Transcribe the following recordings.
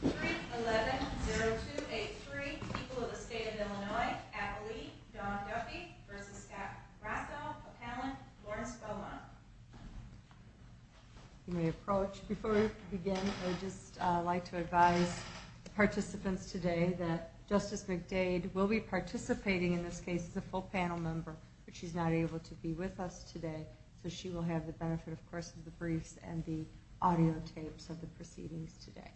3, 11, 0283, people of the state of Illinois, Appalachia, Don Duffy v. Scott Rossow, Appalachian, Lawrence Beaumont. Before we begin, I would just like to advise the participants today that Justice McDade will be participating in this case as a full panel member, but she's not able to be with us today, so she will have the benefit, of course, of the briefs and the audio tapes of the proceedings today.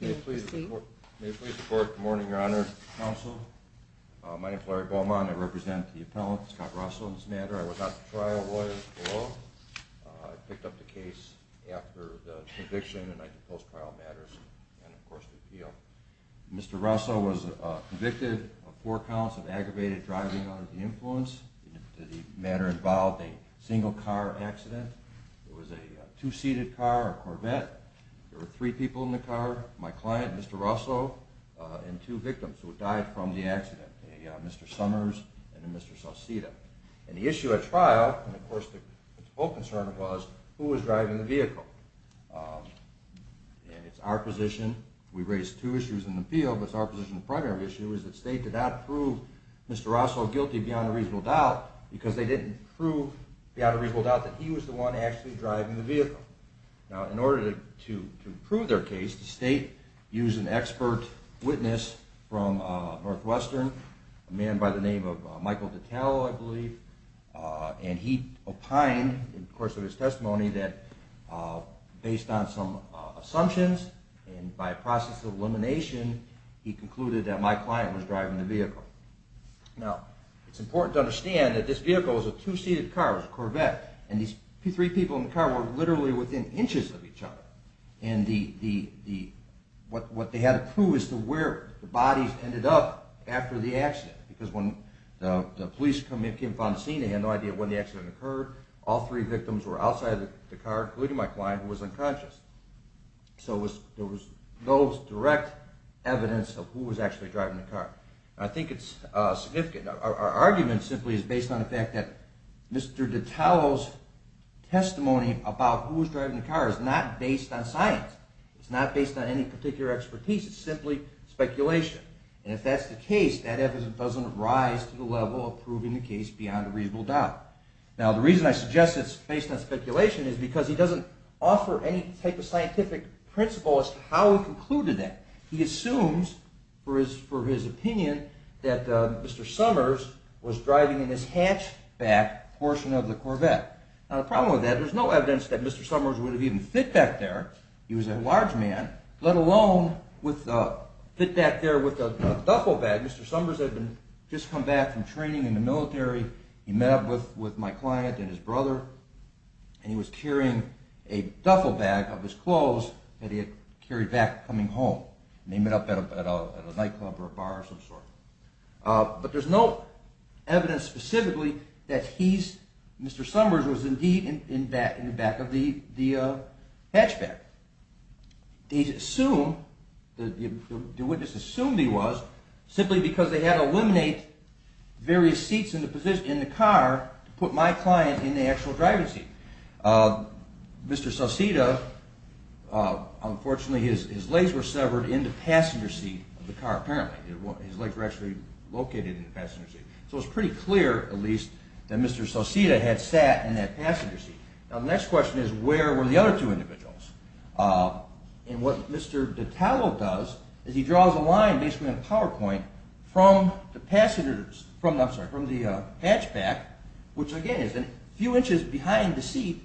May I please report good morning, Your Honor, Counsel. My name is Larry Beaumont. I represent the appellant, Scott Rossow, in this matter. I was not the trial lawyer at all. I picked up the case after the conviction and I did post-trial matters and, of course, the appeal. Mr. Rossow was convicted of four counts of aggravated driving under the influence. The matter involved a single car accident. It was a two-seated car, a Corvette. There were three people in the car, my client, Mr. Rossow, and two victims who died from the accident, Mr. Summers and Mr. Sauceda. And the issue at trial, of course, the whole concern was who was driving the vehicle. It's our position, we raised two issues in the field, but it's our position, the primary issue is that the state did not prove Mr. Rossow guilty beyond a reasonable doubt because they didn't prove beyond a reasonable doubt that he was the one actually driving the vehicle. Now, in order to prove their case, the state used an expert witness from Northwestern, a man by the name of Michael Dittal, I believe, and he opined, of course, in his testimony, that based on some assumptions and by process of elimination, he concluded that my client was driving the vehicle. Now, it's important to understand that this vehicle was a two-seated car, it was a Corvette, and these three people in the car were literally within inches of each other. And what they had to prove is to where the bodies ended up after the accident because when the police came and found the scene, they had no idea when the accident occurred. All three victims were outside of the car, including my client, who was unconscious. So there was no direct evidence of who was actually driving the car. I think it's significant. Our argument simply is based on the fact that Mr. Dittal's testimony about who was driving the car is not based on science. It's not based on any particular expertise. It's simply speculation. And if that's the case, that evidence doesn't rise to the level of proving the case beyond a reasonable doubt. Now, the reason I suggest it's based on speculation is because he doesn't offer any type of scientific principle as to how he concluded that. He assumes, for his opinion, that Mr. Summers was driving in his hatchback portion of the Corvette. Now, the problem with that, there's no evidence that Mr. Summers would have even fit back there. He was a large man, let alone fit back there with a duffel bag. Mr. Summers had just come back from training in the military. He met up with my client and his brother, and he was carrying a duffel bag of his clothes that he had carried back coming home. He met up at a nightclub or a bar of some sort. But there's no evidence specifically that Mr. Summers was indeed in the back of the hatchback. The witness assumed he was, simply because they had to eliminate various seats in the car to put my client in the actual driving seat. Mr. Sauceda, unfortunately, his legs were severed in the passenger seat of the car, apparently. His legs were actually located in the passenger seat. So it was pretty clear, at least, that Mr. Sauceda had sat in that passenger seat. Now, the next question is, where were the other two individuals? And what Mr. Detallo does is he draws a line based on a PowerPoint from the hatchback, which again is a few inches behind the seat,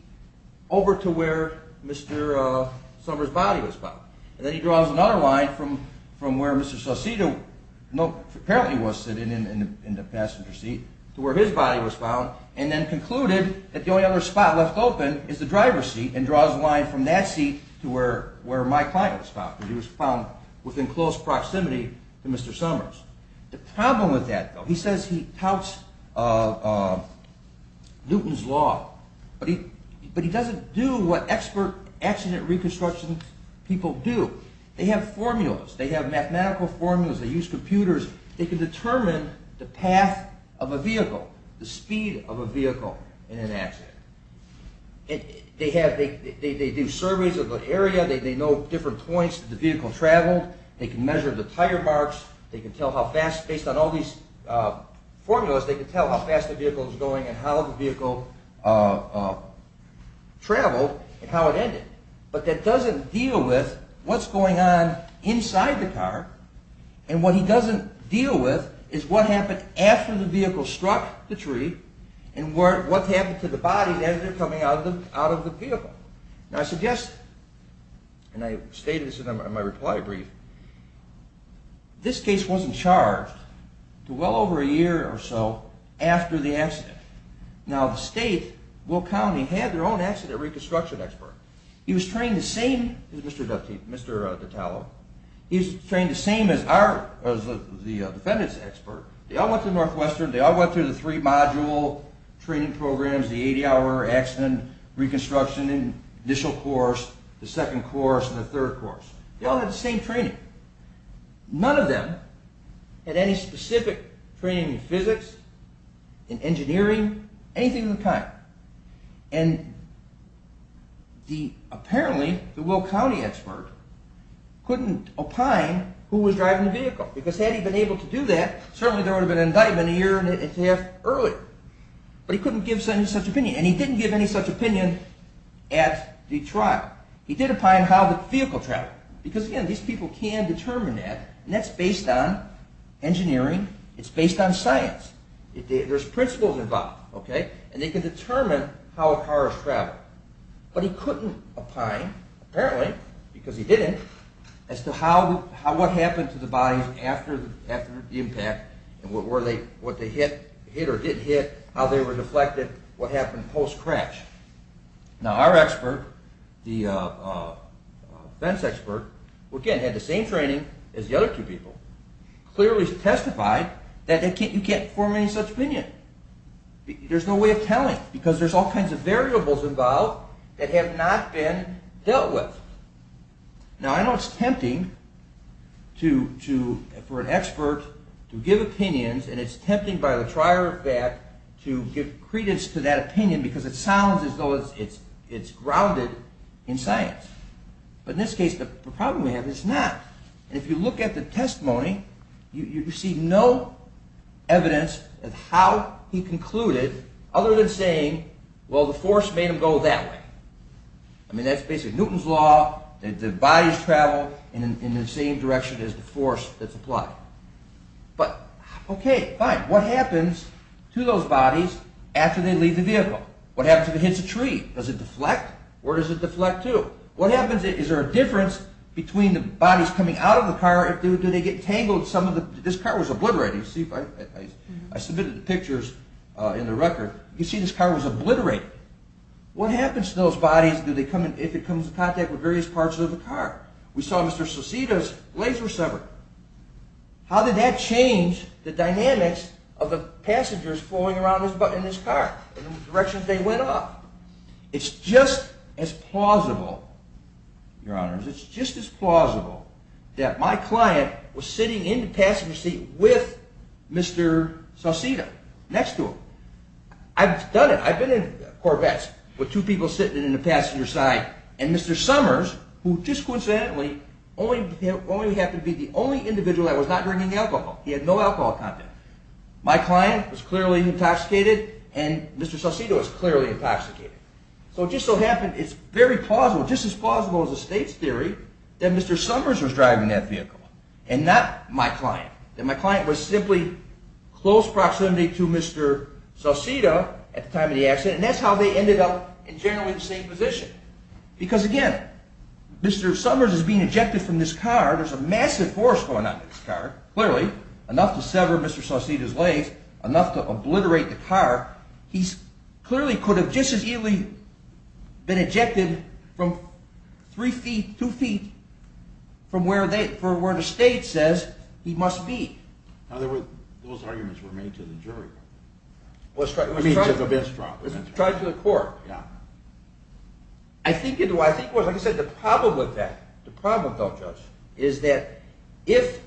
over to where Mr. Summers' body was found. Then he draws another line from where Mr. Sauceda apparently was sitting in the passenger seat to where his body was found, and then concluded that the only other spot left open is the driver's seat, and draws a line from that seat to where my client was found, because he was found within close proximity to Mr. Summers. The problem with that, though, he says he touts Newton's Law, but he doesn't do what expert accident reconstruction people do. They have formulas, they have mathematical formulas, they use computers, they can determine the path of a vehicle, the speed of a vehicle in an accident. They do surveys of the area, they know different points the vehicle traveled, they can measure the tire marks, they can tell how fast, based on all these formulas, they can tell how fast the vehicle was going and how the vehicle traveled and how it ended. But that doesn't deal with what's going on inside the car, and what he doesn't deal with is what happened after the vehicle struck the tree, and what happened to the bodies as they're coming out of the vehicle. Now I suggested, and I stated this in my reply brief, this case wasn't charged to well over a year or so after the accident. Now the state, Will County, had their own accident reconstruction expert. He was trained the same as the defendants expert. They all went through Northwestern, they all went through the three-module training programs, the 80-hour accident reconstruction, initial course, the second course, and the third course. They all had the same training. None of them had any specific training in physics, in engineering, anything of the kind. And apparently the Will County expert couldn't opine who was driving the vehicle, because had he been able to do that, certainly there would have been an indictment a year and a half earlier. But he couldn't give any such opinion, and he didn't give any such opinion at the trial. He did opine how the vehicle traveled. Because again, these people can determine that, and that's based on engineering, it's based on science. There's principles involved. And they can determine how a car has traveled. But he couldn't opine, apparently, because he didn't, as to what happened to the bodies after the impact and what they hit or didn't hit, how they were deflected, what happened post-crash. Now our expert, the fence expert, again had the same training as the other two people, clearly testified that you can't form any such opinion. There's no way of telling, because there's all kinds of variables involved that have not been dealt with. Now I know it's tempting for an expert to give opinions, and it's tempting by the trier of fact to give credence to that opinion, because it sounds as though it's grounded in science. But in this case, the problem we have is not. And if you look at the testimony, you see no evidence of how he concluded, other than saying, well the force made them go that way. I mean that's basically Newton's Law, that the bodies travel in the same direction as the force that's applied. But, okay, fine, what happens to those bodies after they leave the vehicle? What happens if it hits a tree? Does it deflect? Where does it deflect to? What happens, is there a difference between the bodies coming out of the car, do they get tangled in some of the, this car was obliterated, you see, I submitted the pictures in the record, you see this car was obliterated. What happens to those bodies if it comes in contact with various parts of the car? We saw Mr. Sauceda's legs were severed. How did that change the dynamics of the passengers flowing around in this car, in the direction that they went off? It's just as plausible, your honors, it's just as plausible that my client was sitting in the passenger seat with Mr. Sauceda, next to him. I've done it, I've been in Corvettes with two people sitting in the passenger side, and Mr. Summers, who just coincidentally only happened to be the only individual that was not drinking alcohol, he had no alcohol content. My client was clearly intoxicated, and Mr. Sauceda was clearly intoxicated. So it just so happened, it's very plausible, just as plausible as the state's theory, that Mr. Summers was driving that vehicle, and not my client. That my client was simply close proximity to Mr. Sauceda at the time of the accident, and that's how they ended up in generally the same position. Because again, Mr. Summers is being ejected from this car, there's a massive force going on in this car, clearly, enough to sever Mr. Sauceda's legs, enough to obliterate the car. He clearly could have just as easily been ejected from three feet, two feet from where the state says he must be. Now those arguments were made to the jury, I mean to the bench trial. I think it was, like I said, the problem with that, the problem though, Judge, is that if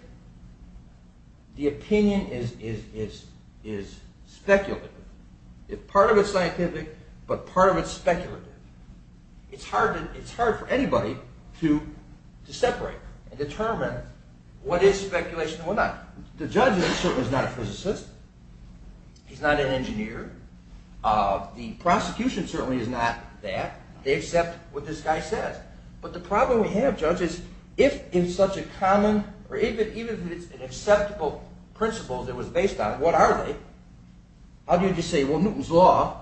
the opinion is speculative, part of it's scientific, but part of it's speculative, it's hard for anybody to separate and determine what is speculation and what's not. The judge is certainly not a physicist, he's not an engineer, the prosecution certainly is not that, they accept what this guy says. But the problem we have, Judge, is if it's such a common, or even if it's an acceptable principle that it was based on, what are they? How do you just say, well Newton's Law,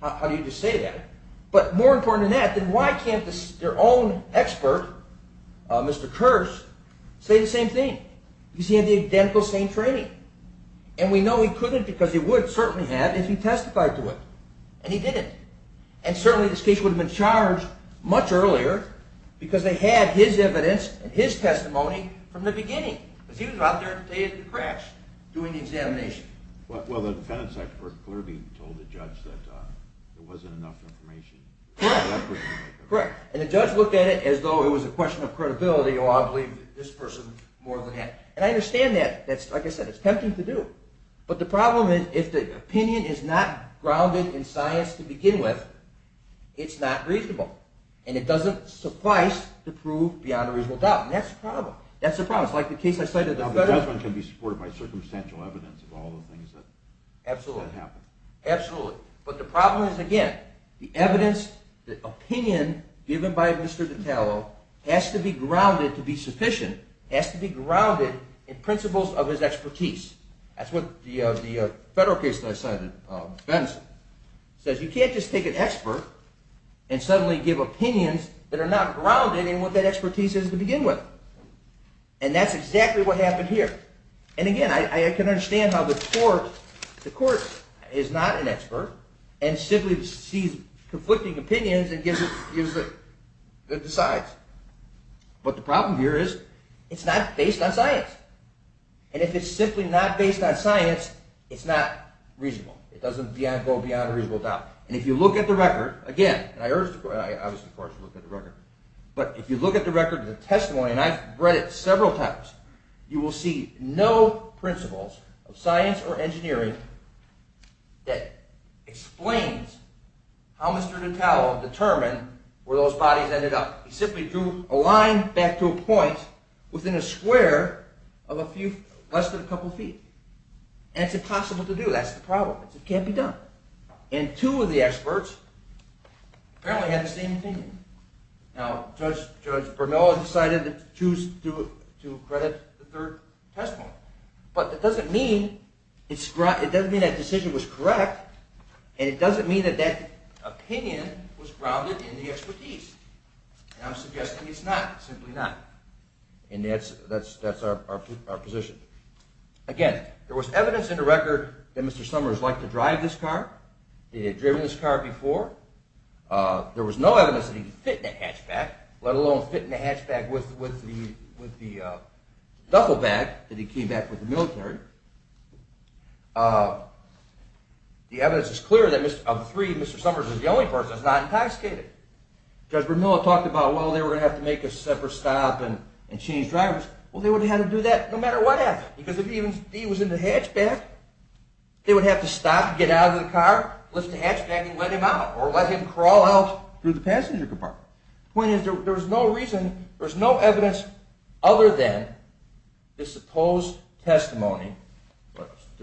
how do you just say that? But more important than that, then why can't their own expert, Mr. Kearse, say the same thing? Because he had the identical same training. And we know he couldn't because he would certainly have if he testified to it, and he didn't. And certainly this case would have been charged much earlier because they had his evidence and his testimony from the beginning. Because he was out there at the crash doing the examination. Well the defendant's expert clearly told the judge that there wasn't enough information. Correct. And the judge looked at it as though it was a question of credibility, oh I believe this person more than that. And I understand that, like I said, it's tempting to do. But the problem is if the opinion is not grounded in science to begin with, it's not reasonable. And it doesn't suffice to prove beyond a reasonable doubt. And that's the problem. Now the judgment can be supported by circumstantial evidence of all the things that happened. Absolutely. But the problem is, again, the evidence, the opinion given by Mr. DiTallo has to be grounded to be sufficient, has to be grounded in principles of his expertise. That's what the federal case that I cited, Benson, says you can't just take an expert and suddenly give opinions that are not grounded in what that expertise is to begin with. And that's exactly what happened here. And again, I can understand how the court is not an expert and simply sees conflicting opinions and decides. But the problem here is it's not based on science. And if it's simply not based on science, it's not reasonable. It doesn't go beyond a reasonable doubt. And if you look at the record, again, and I urge the court to look at the record, but if you look at the record of the testimony, and I've read it several times, you will see no principles of science or engineering that explains how Mr. DiTallo determined where those bodies ended up. He simply drew a line back to a point within a square of less than a couple feet. And it's impossible to do. That's the problem. It can't be done. And two of the experts apparently had the same opinion. Now, Judge Bernal decided to choose to credit the third testimony. But that doesn't mean that decision was correct, and it doesn't mean that that opinion was grounded in the expertise. And I'm suggesting it's not, simply not. And that's our position. Again, there was evidence in the record that Mr. Summers liked to drive this car, that he had driven this car before. There was no evidence that he could fit in a hatchback, let alone fit in a hatchback with the duffel bag that he came back with the military. The evidence is clear that of the three, Mr. Summers is the only person that's not intoxicated. Judge Bernal talked about, well, they were going to have to make a separate stop and change drivers. Well, they would have had to do that no matter what happened, because if he was in the hatchback, they would have to stop, get out of the car, lift the hatchback and let him out, or let him crawl out through the passenger compartment. The point is, there was no reason, there was no evidence other than the supposed testimony,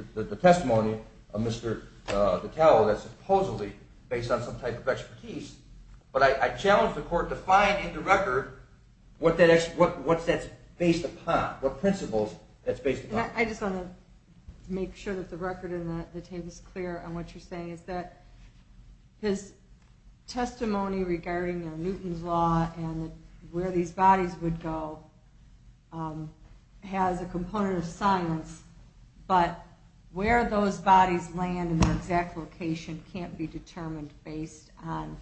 the testimony of Mr. Dattello that's supposedly based on some type of expertise. But I challenge the Court to find in the record what that's based upon, what principles that's based upon. I just want to make sure that the record and the table is clear on what you're saying. His testimony regarding Newton's Law and where these bodies would go has a component of science, but where those bodies land and the exact location can't be determined based on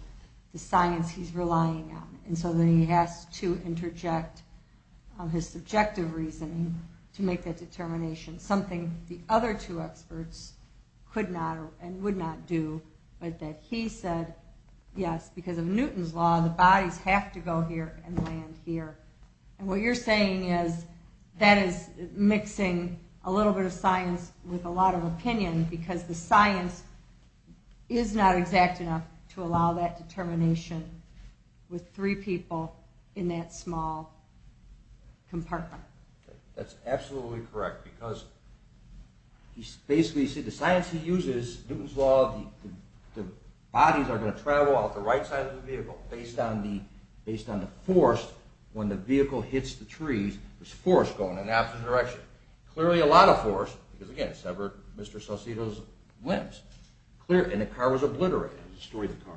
the science he's relying on. And so then he has to interject his subjective reasoning to make that determination, something the other two experts could not and would not do, but that he said, yes, because of Newton's Law, the bodies have to go here and land here. And what you're saying is, that is mixing a little bit of science with a lot of opinion, because the science is not exact enough to allow that determination with three people in that small compartment. That's absolutely correct, because the science he uses, Newton's Law, the bodies are going to travel out the right side of the vehicle based on the force when the vehicle hits the trees, there's force going in the opposite direction. Clearly a lot of force, because again, it severed Mr. Salcido's limbs, and the car was obliterated. Destroyed the car.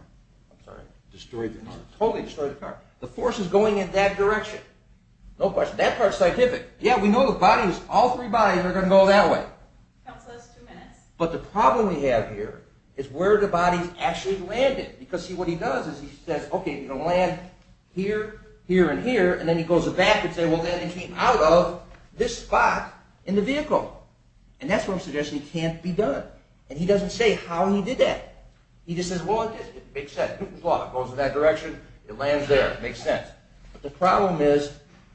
Totally destroyed the car. The force is going in that direction. No question. That part's scientific. Yeah, we know all three bodies are going to go that way. But the problem we have here is where the bodies actually landed, because what he does is he says, okay, you're going to land here, here, and here, and then he goes back and says, well, that came out of this spot in the vehicle. And that's what I'm suggesting can't be done. And he doesn't say how he did that. He just says, well, it makes sense, Newton's Law, it goes in that direction, it lands there, it makes sense. But the problem is,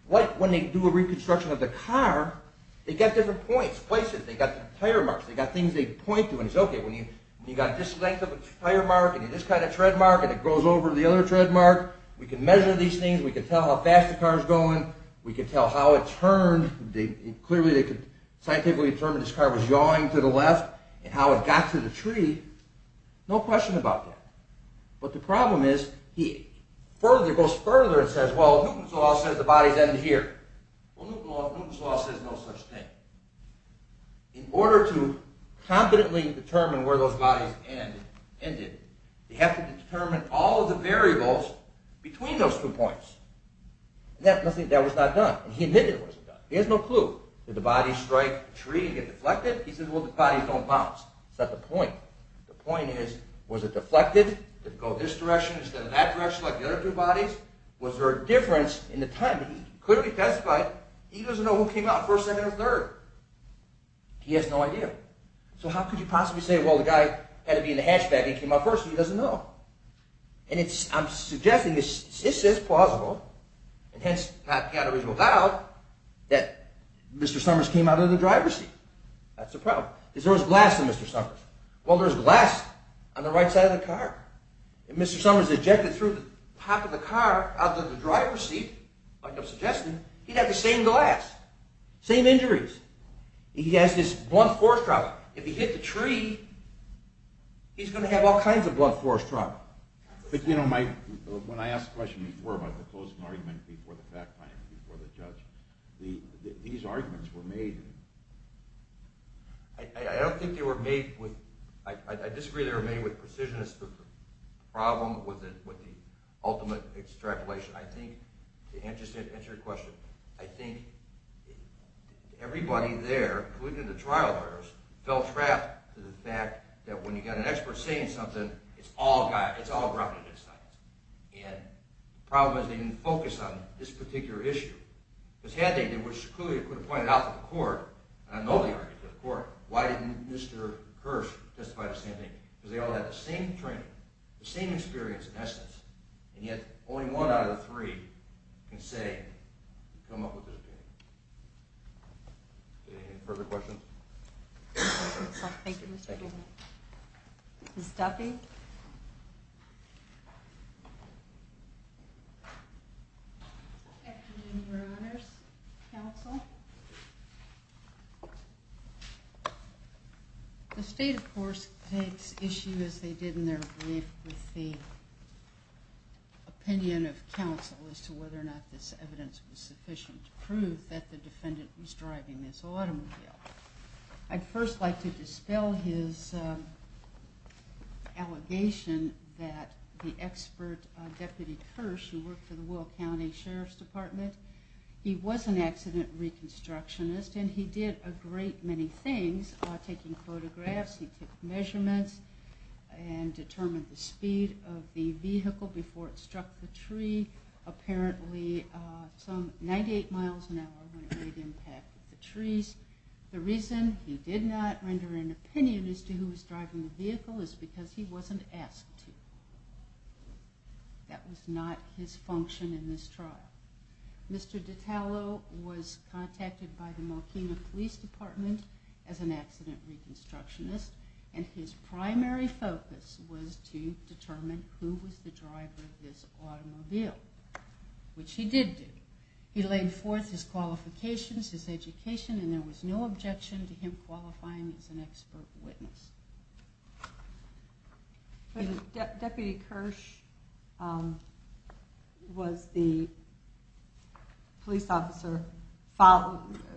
when they do a reconstruction of the car, they've got different points, places, they've got tire marks, they've got things they point to, and he says, okay, when you've got this length of a tire mark, and this kind of tread mark, and it goes over the other tread mark, we can measure these things, we can tell how fast the car's going, we can tell how it turned, clearly they could scientifically determine this car was yawing to the left, and how it got to the tree. No question about that. But the problem is, he goes further and says, well, Newton's Law says the bodies end here. Well, Newton's Law says no such thing. In order to confidently determine where those bodies ended, they have to determine all the variables between those two points. And that was not done. He admitted it wasn't done. He has no clue. Did the body strike the tree and get deflected? He says, well, the bodies don't bounce. That's not the point. The point is, was it deflected? Did it go this direction instead of that direction like the other two bodies? Was there a difference in the time? He clearly testified he doesn't know who came out first, second, or third. He has no idea. So how could you possibly say, well, the guy had to be in the hatchback and came out first, and he doesn't know? And I'm suggesting this is plausible, and hence Pat Catteridge was out, that Mr. Summers came out of the driver's seat. That's the problem. Is there glass in Mr. Summers? Well, there's glass on the right side of the car. If Mr. Summers ejected through the top of the car out of the driver's seat, like I'm suggesting, he'd have the same glass. Same injuries. He has this blunt force trauma. If he hit the tree, he's going to have all kinds of blunt force trauma. But you know, Mike, when I asked the question before about the closing argument before the fact-finding, before the judge, these arguments were made… I don't think they were made with… I disagree they were made with precision. It's the problem with the ultimate extrapolation. I think, to answer your question, I think everybody there, including the trial jurors, felt trapped to the fact that when you've got an expert saying something, it's all grounded in science. And the problem is they didn't focus on this particular issue. Because had they, which clearly could have pointed out to the court, and I know they argued to the court, why didn't Mr. Hirsch testify to the same thing? Because they all had the same training, the same experience in essence, and yet only one out of the three can say, come up with this opinion. Any further questions? Thank you, Mr. Goldman. Ms. Duffy? Good afternoon, Your Honors. Counsel? The state, of course, takes issue, as they did in their brief, with the opinion of counsel as to whether or not this evidence was sufficient to prove that the defendant was driving this automobile. I'd first like to dispel his allegation that the expert, Deputy Kirsch, who worked for the Will County Sheriff's Department, he was an accident reconstructionist, and he did a great many things, taking photographs, he took measurements, and determined the speed of the vehicle before it struck the tree. Apparently some 98 miles an hour when it made impact at the trees. The reason he did not render an opinion as to who was driving the vehicle is because he wasn't asked to. That was not his function in this trial. Mr. DiTallo was contacted by the Mocena Police Department as an accident reconstructionist, and his primary focus was to determine who was the driver of this automobile, which he did do. He laid forth his qualifications, his education, and there was no objection to him qualifying as an expert witness. Deputy Kirsch was the police officer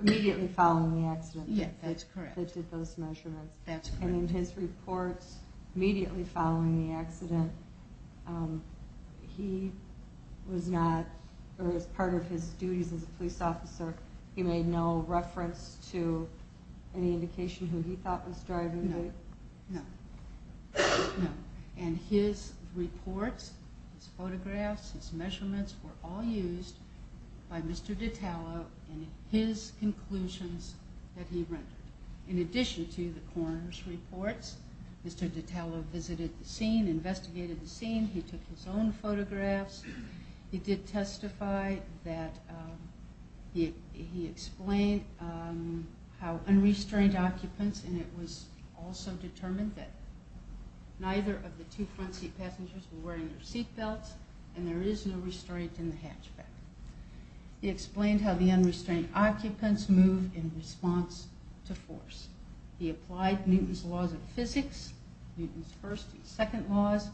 immediately following the accident. Yes, that's correct. That did those measurements. That's correct. immediately following the accident. He was not, or as part of his duties as a police officer, he made no reference to any indication who he thought was driving the vehicle? No. No. And his reports, his photographs, his measurements were all used by Mr. DiTallo in his conclusions that he rendered. In addition to the coroner's reports, Mr. DiTallo visited the scene, investigated the scene, he took his own photographs, he did testify that he explained how unrestrained occupants, and it was also determined that neither of the two front seat passengers were wearing their seat belts, and there is no restraint in the hatchback. He explained how the unrestrained occupants moved in response to force. He applied Newton's laws of physics, Newton's first and second laws.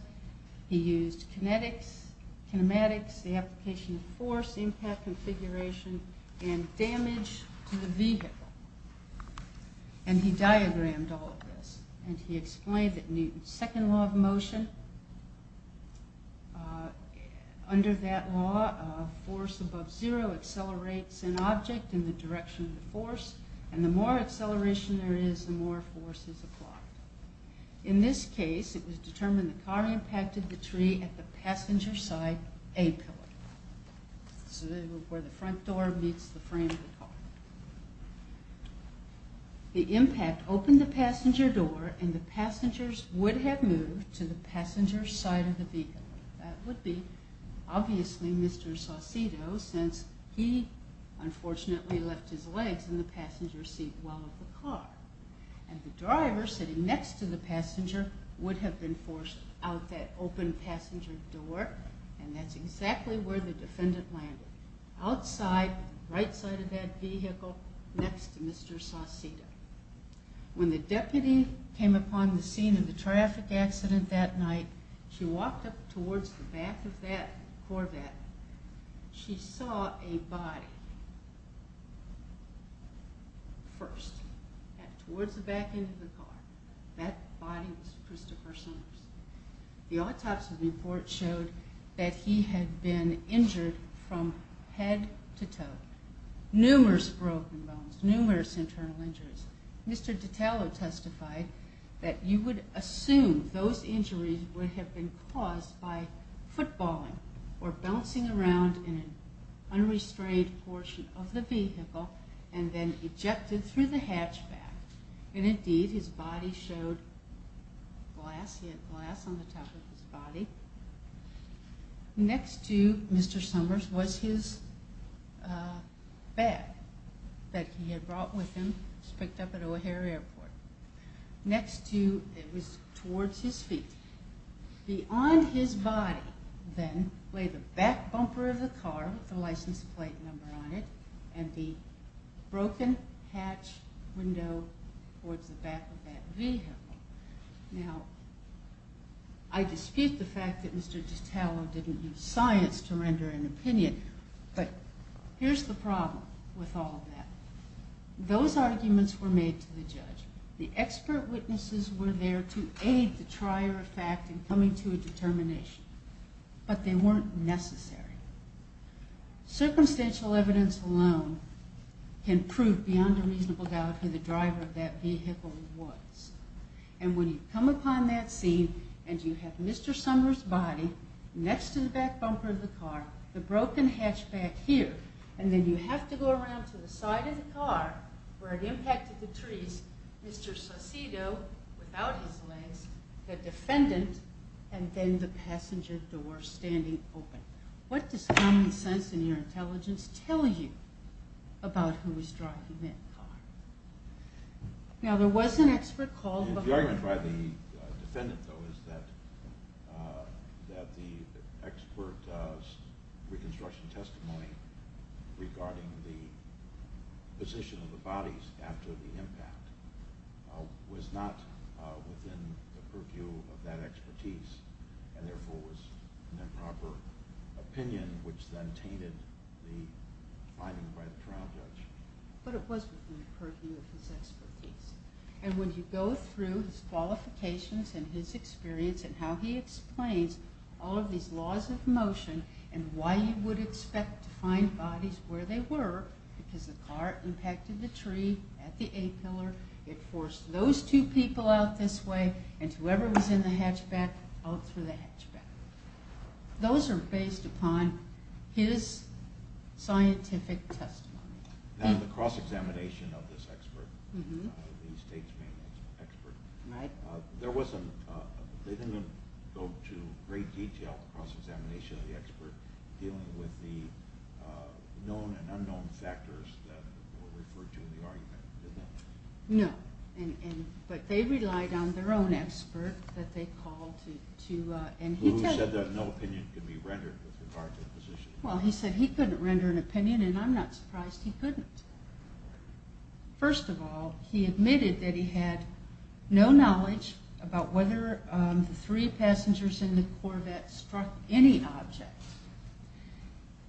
He used kinetics, kinematics, the application of force, impact configuration, and damage to the vehicle. And he diagrammed all of this. And he explained that Newton's second law of motion, under that law, force above zero accelerates an object in the direction of the force, and the more acceleration there is, the more force is applied. In this case, it was determined the car impacted the tree at the passenger side A pillar, where the front door meets the frame of the car. The impact opened the passenger door, and the passengers would have moved to the passenger side of the vehicle. That would be, obviously, Mr. Saucedo, since he, unfortunately, left his legs in the passenger seat while in the car. And the driver, sitting next to the passenger, would have been forced out that open passenger door, and that's exactly where the defendant landed, outside, right side of that vehicle, next to Mr. Saucedo. When the deputy came upon the scene of the traffic accident that night, she walked up towards the back of that Corvette. She saw a body, first, towards the back end of the car. That body was Christopher Somers. The autopsy report showed that he had been injured from head to toe. Numerous broken bones, numerous internal injuries. Mr. Detallo testified that you would assume those injuries would have been caused by footballing, or bouncing around in an unrestrained portion of the vehicle, and then ejected through the hatchback. And, indeed, his body showed glass. He had glass on the top of his body. Next to Mr. Somers was his bag that he had brought with him, picked up at O'Hare Airport. Next to, it was towards his feet. Beyond his body, then, lay the back bumper of the car with the license plate number on it, and the broken hatch window towards the back of that vehicle. Now, I dispute the fact that Mr. Detallo didn't use science to render an opinion, but here's the problem with all of that. Those arguments were made to the judge. The expert witnesses were there to aid the trier of fact in coming to a determination, but they weren't necessary. Circumstantial evidence alone can prove beyond a reasonable doubt who the driver of that vehicle was. And when you come upon that scene, and you have Mr. Somers' body next to the back bumper of the car, the broken hatchback here, and then you have to go around to the side of the car, where it impacted the trees, Mr. Saucedo, without his legs, the defendant, and then the passenger door standing open. What does common sense in your intelligence tell you about who was driving that car? Now, there was an expert called before... The argument by the defendant, though, is that the expert's reconstruction testimony regarding the position of the bodies after the impact was not within the purview of that expertise, and therefore was an improper opinion, which then tainted the finding by the trial judge. But it was within the purview of his expertise. And when you go through his qualifications and his experience and how he explains all of these laws of motion, and why you would expect to find bodies where they were, because the car impacted the tree at the A-pillar, it forced those two people out this way, and whoever was in the hatchback, out through the hatchback. Those are based upon his scientific testimony. Now, the cross-examination of this expert, the state's main expert, they didn't go to great detail in the cross-examination of the expert dealing with the known and unknown factors that were referred to in the argument, did they? No. But they relied on their own expert that they called to... Who said that no opinion could be rendered with regard to the position. Well, he said he couldn't render an opinion, and I'm not surprised he couldn't. First of all, he admitted that he had no knowledge about whether the three passengers in the Corvette struck any object.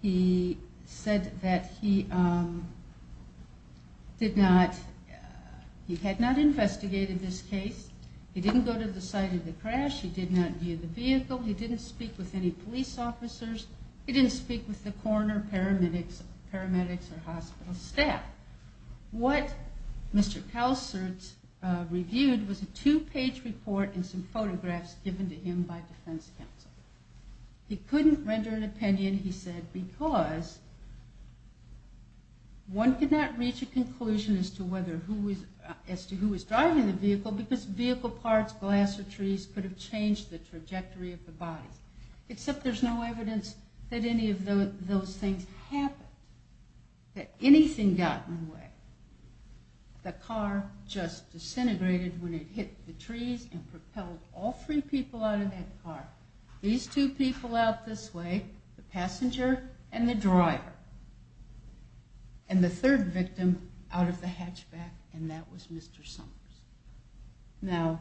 He said that he did not... He had not investigated this case. He didn't go to the site of the crash. He did not view the vehicle. He didn't speak with any police officers. He didn't speak with the coroner, paramedics, or hospital staff. What Mr. Kalsert reviewed was a two-page report and some photographs given to him by defense counsel. He couldn't render an opinion, he said, because one could not reach a conclusion as to who was driving the vehicle because vehicle parts, glass, or trees could have changed the trajectory of the bodies, except there's no evidence that any of those things happened, that anything got in the way. The car just disintegrated when it hit the trees and propelled all three people out of that car, these two people out this way, the passenger and the driver, and the third victim out of the hatchback, and that was Mr. Summers. Now,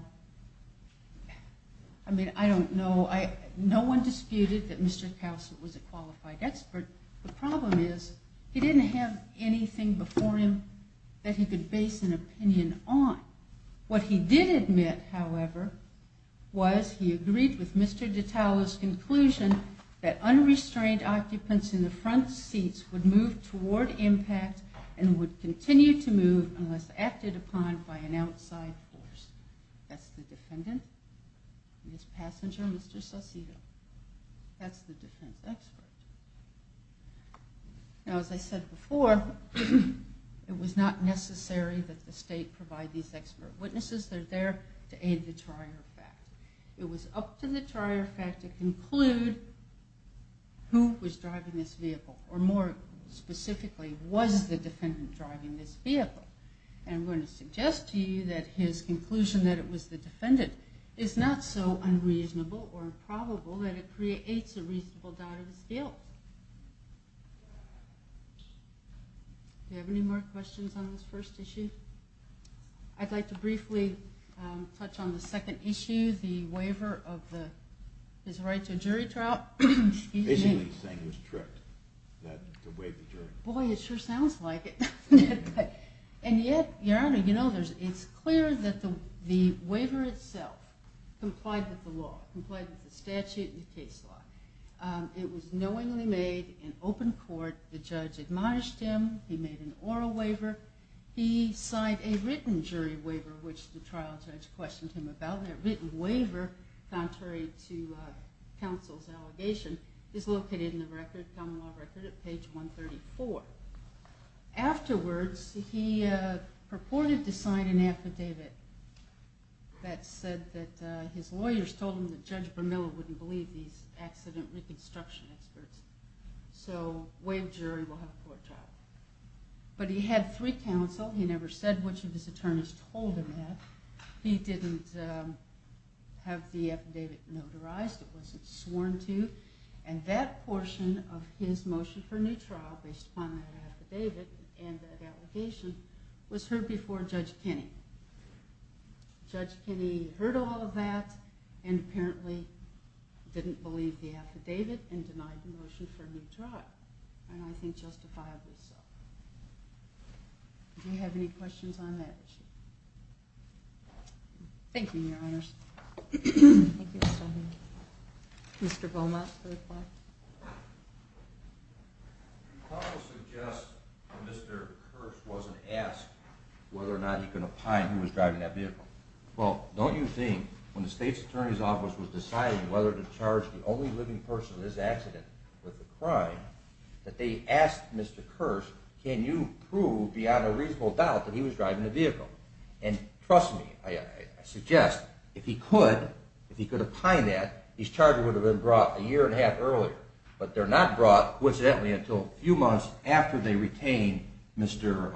I mean, I don't know. No one disputed that Mr. Kalsert was a qualified expert. The problem is he didn't have anything before him that he could base an opinion on. What he did admit, however, was he agreed with Mr. Detallo's conclusion that unrestrained occupants in the front seats would move toward impact and would continue to move unless acted upon by an outside force. That's the defendant and his passenger, Mr. Saucedo. That's the defense expert. Now, as I said before, it was not necessary that the state provide these expert witnesses. They're there to aid the trier fact. It was up to the trier fact to conclude who was driving this vehicle, or more specifically, was the defendant driving this vehicle? And I'm going to suggest to you that his conclusion that it was the defendant is not so unreasonable or improbable that it creates a reasonable doubt of his guilt. Do we have any more questions on this first issue? I'd like to briefly touch on the second issue, the waiver of his right to a jury trial. Excuse me. Basically, he was tricked to waive the jury trial. Boy, it sure sounds like it. And yet, Your Honor, it's clear that the waiver itself complied with the law, complied with the statute and the case law. It was knowingly made in open court. The judge admonished him. He made an oral waiver. He signed a written jury waiver, which the trial judge questioned him about. That written waiver, contrary to counsel's allegation, is located in the common law record at page 134. Afterwards, he purported to sign an affidavit that said that his lawyers told him that Judge Vermilla wouldn't believe these accident reconstruction experts, so waive jury, we'll have a court trial. But he had three counsel. He never said which of his attorneys told him that. He didn't have the affidavit notarized. It wasn't sworn to. And that portion of his motion for a new trial based upon that affidavit and that allegation was heard before Judge Kinney. Judge Kinney heard all of that and apparently didn't believe the affidavit and denied the motion for a new trial, and I think justifiably so. Do you have any questions on that issue? Thank you, Your Honors. Thank you so much. Mr. Beaumont, third part. You also suggest that Mr. Kirsch wasn't asked whether or not he could opine who was driving that vehicle. Well, don't you think when the state's attorney's office was deciding whether to charge the only living person in this accident with the crime, that they asked Mr. Kirsch, can you prove beyond a reasonable doubt that he was driving the vehicle? And trust me, I suggest if he could, if he could opine that, these charges would have been brought a year and a half earlier, but they're not brought, coincidentally, until a few months after they retain Mr.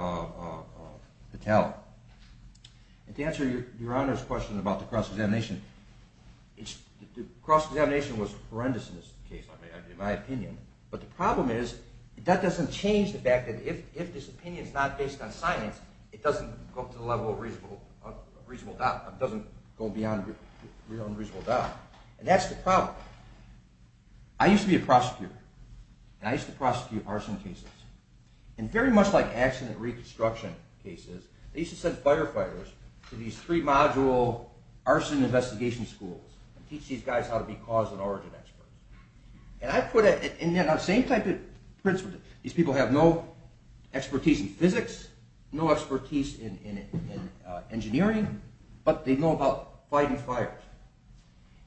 Vitale. To answer Your Honor's question about the cross-examination, the cross-examination was horrendous in this case, in my opinion, but the problem is that doesn't change the fact that if this opinion is not based on science, it doesn't go beyond a reasonable doubt. And that's the problem. I used to be a prosecutor, and I used to prosecute arson cases. And very much like accident reconstruction cases, they used to send firefighters to these three-module arson investigation schools and teach these guys how to be cause and origin experts. And I put it in the same type of principle. These people have no expertise in physics, no expertise in engineering, but they know about fighting fires.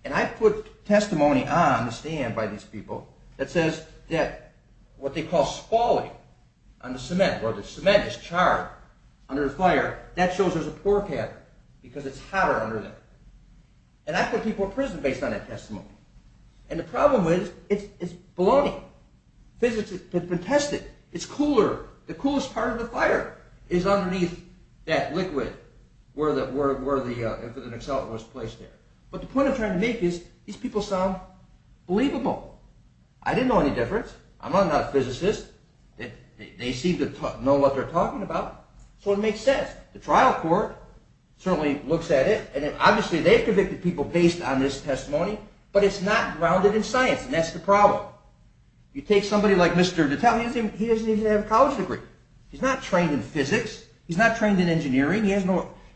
And I put testimony on the stand by these people that says that what they call spalling on the cement, where the cement is charred under the fire, that shows there's a poor cat because it's hotter under there. And I put people in prison based on that testimony. And the problem is it's bloating. Physics has been tested. It's cooler. The coolest part of the fire is underneath that liquid where the excellent was placed there. But the point I'm trying to make is these people sound believable. I didn't know any difference. I'm not a physicist. They seem to know what they're talking about. So it makes sense. The trial court certainly looks at it, and obviously they've convicted people based on this testimony, but it's not grounded in science, and that's the problem. You take somebody like Mr. Detell. He doesn't even have a college degree. He's not trained in physics. He's not trained in engineering.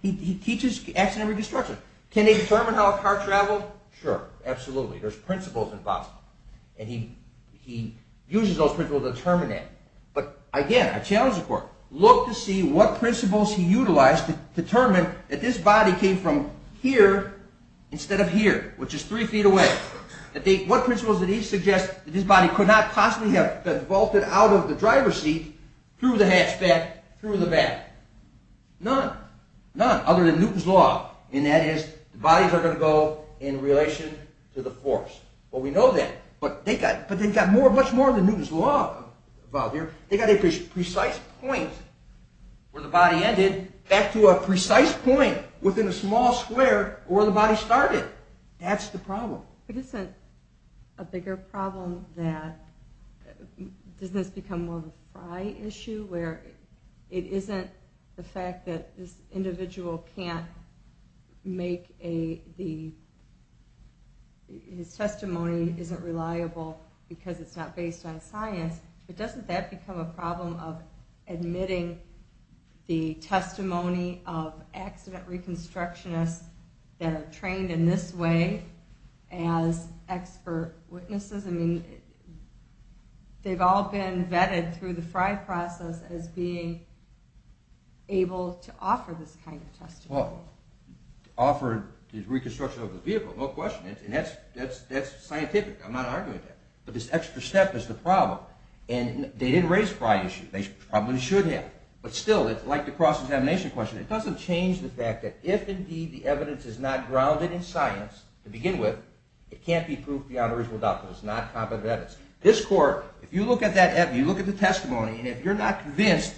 He teaches accident and destruction. Can they determine how a car traveled? Sure, absolutely. There's principles involved. And he uses those principles to determine that. But again, I challenge the court. Look to see what principles he utilized to determine that this body came from here instead of here, which is three feet away. What principles did he suggest that this body could not possibly have vaulted out of the driver's seat through the hatchback through the back? None, none other than Newton's Law, and that is the bodies are going to go in relation to the force. Well, we know that, but they've got much more than Newton's Law involved here. They've got a precise point where the body ended back to a precise point within a small square where the body started. That's the problem. But isn't a bigger problem that – doesn't this become more of a fry issue where it isn't the fact that this individual can't make a – his testimony isn't reliable because it's not based on science, but doesn't that become a problem of admitting the testimony of accident reconstructionists that are trained in this way as expert witnesses? I mean, they've all been vetted through the fry process as being able to offer this kind of testimony. Well, offer the reconstruction of the vehicle, no question, and that's scientific. I'm not arguing that. But this extra step is the problem, and they didn't raise fry issues. They probably should have. But still, it's like the cross-examination question. It doesn't change the fact that if, indeed, the evidence is not grounded in science to begin with, it can't be proved beyond a reasonable doubt because it's not competent evidence. This court, if you look at that evidence, you look at the testimony, and if you're not convinced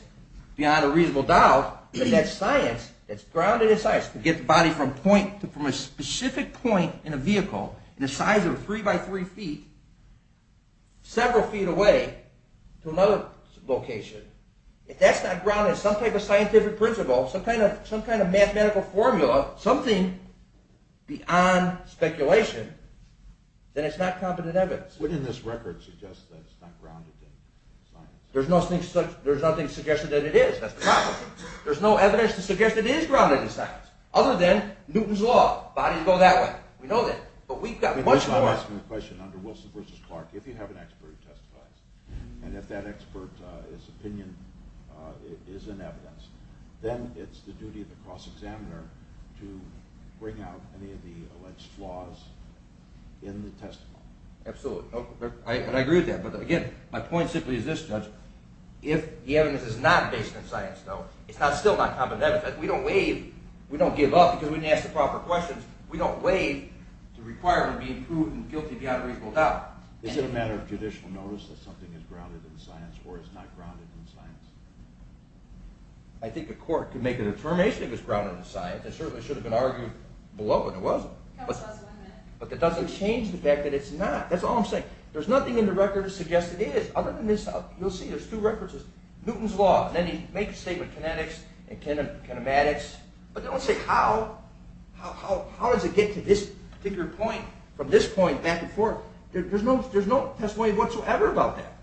beyond a reasonable doubt that that's science, it's grounded in science to get the body from a specific point in a vehicle in the size of three by three feet, several feet away to another location. If that's not grounded in some type of scientific principle, some kind of mathematical formula, something beyond speculation, then it's not competent evidence. What did this record suggest that it's not grounded in science? There's nothing suggested that it is. That's the problem. There's no evidence to suggest it is grounded in science other than Newton's Law. Bodies go that way. We know that. But we've got much more. I'm asking the question under Wilson v. Clark. If you have an expert who testifies, and if that expert's opinion is in evidence, then it's the duty of the cross-examiner to bring out any of the alleged flaws in the testimony. Absolutely. And I agree with that. But, again, my point simply is this, Judge. If the evidence is not based in science, though, it's still not competent evidence. We don't waive. We don't give up because we didn't ask the proper questions. We don't waive the requirement to be proved guilty beyond a reasonable doubt. Is it a matter of judicial notice that something is grounded in science or is not grounded in science? I think the court can make a determination if it's grounded in science. It certainly should have been argued below, and it wasn't. But that doesn't change the fact that it's not. That's all I'm saying. There's nothing in the record that suggests it is other than this. You'll see there's two references. Newton's Law. Then he makes a statement, kinetics and kinematics. But don't say how. How does it get to this particular point from this point back and forth? There's no testimony whatsoever about that.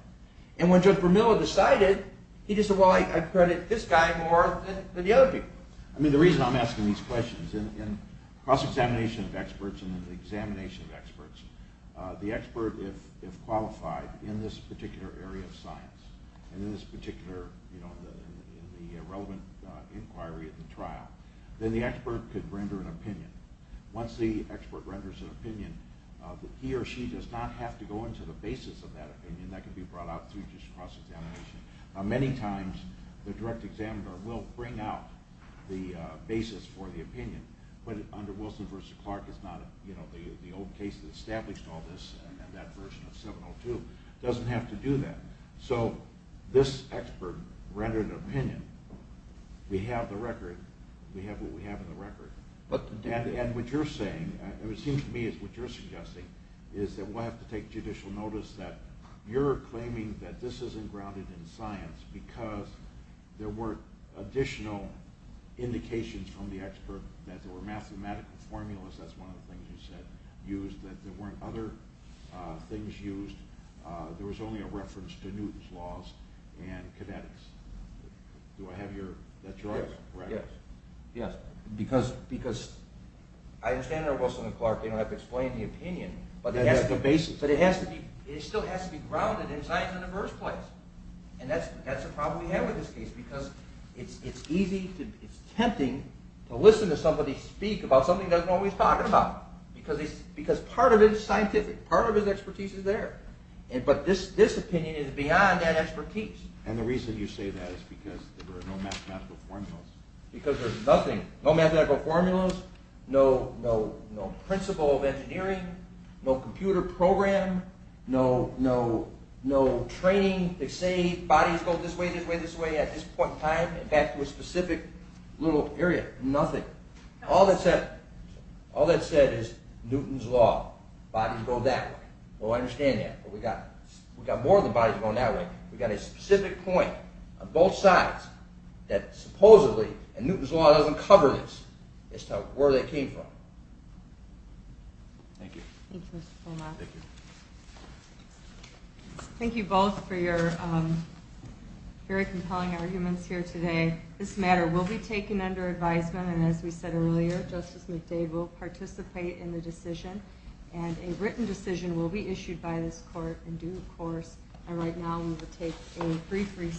And when Judge Vermilla decided, he just said, well, I credit this guy more than the other people. I mean, the reason I'm asking these questions, in cross-examination of experts and in the examination of experts, the expert, if qualified in this particular area of science and in this particular, you know, in the relevant inquiry of the trial, then the expert could render an opinion. Once the expert renders an opinion, he or she does not have to go into the basis of that opinion. That can be brought out through just cross-examination. Many times the direct examiner will bring out the basis for the opinion. But under Wilson v. Clark, it's not, you know, the old case that established all this and that version of 702, doesn't have to do that. So this expert rendered an opinion. We have the record. We have what we have in the record. And what you're saying, it seems to me is what you're suggesting, is that we'll have to take judicial notice that you're claiming that this isn't grounded in science because there weren't additional indications from the expert that there were mathematical formulas, that's one of the things you said, used, that there weren't other things used. There was only a reference to Newton's laws and kinetics. Do I have that choice? Yes. Yes, because I understand under Wilson v. Clark they don't have to explain the opinion, but it still has to be grounded in science in the first place. And that's the problem we have with this case because it's easy, it's tempting to listen to somebody speak about something he doesn't know what he's talking about because part of it is scientific, part of his expertise is there. But this opinion is beyond that expertise. And the reason you say that is because there were no mathematical formulas. Because there's nothing, no mathematical formulas, no principle of engineering, no computer program, no training to say bodies go this way, this way, this way, at this point in time, back to a specific little area, nothing. All that's said is Newton's law, bodies go that way. Well, I understand that, but we've got more than bodies going that way. We've got a specific point on both sides that supposedly, and Newton's law doesn't cover this, as to where they came from. Thank you. Thank you, Mr. Fullmont. Thank you. Thank you both for your very compelling arguments here today. This matter will be taken under advisement, and as we said earlier, Justice McDade will participate in the decision, and a written decision will be issued by this court in due course. And right now, we will take a brief recess.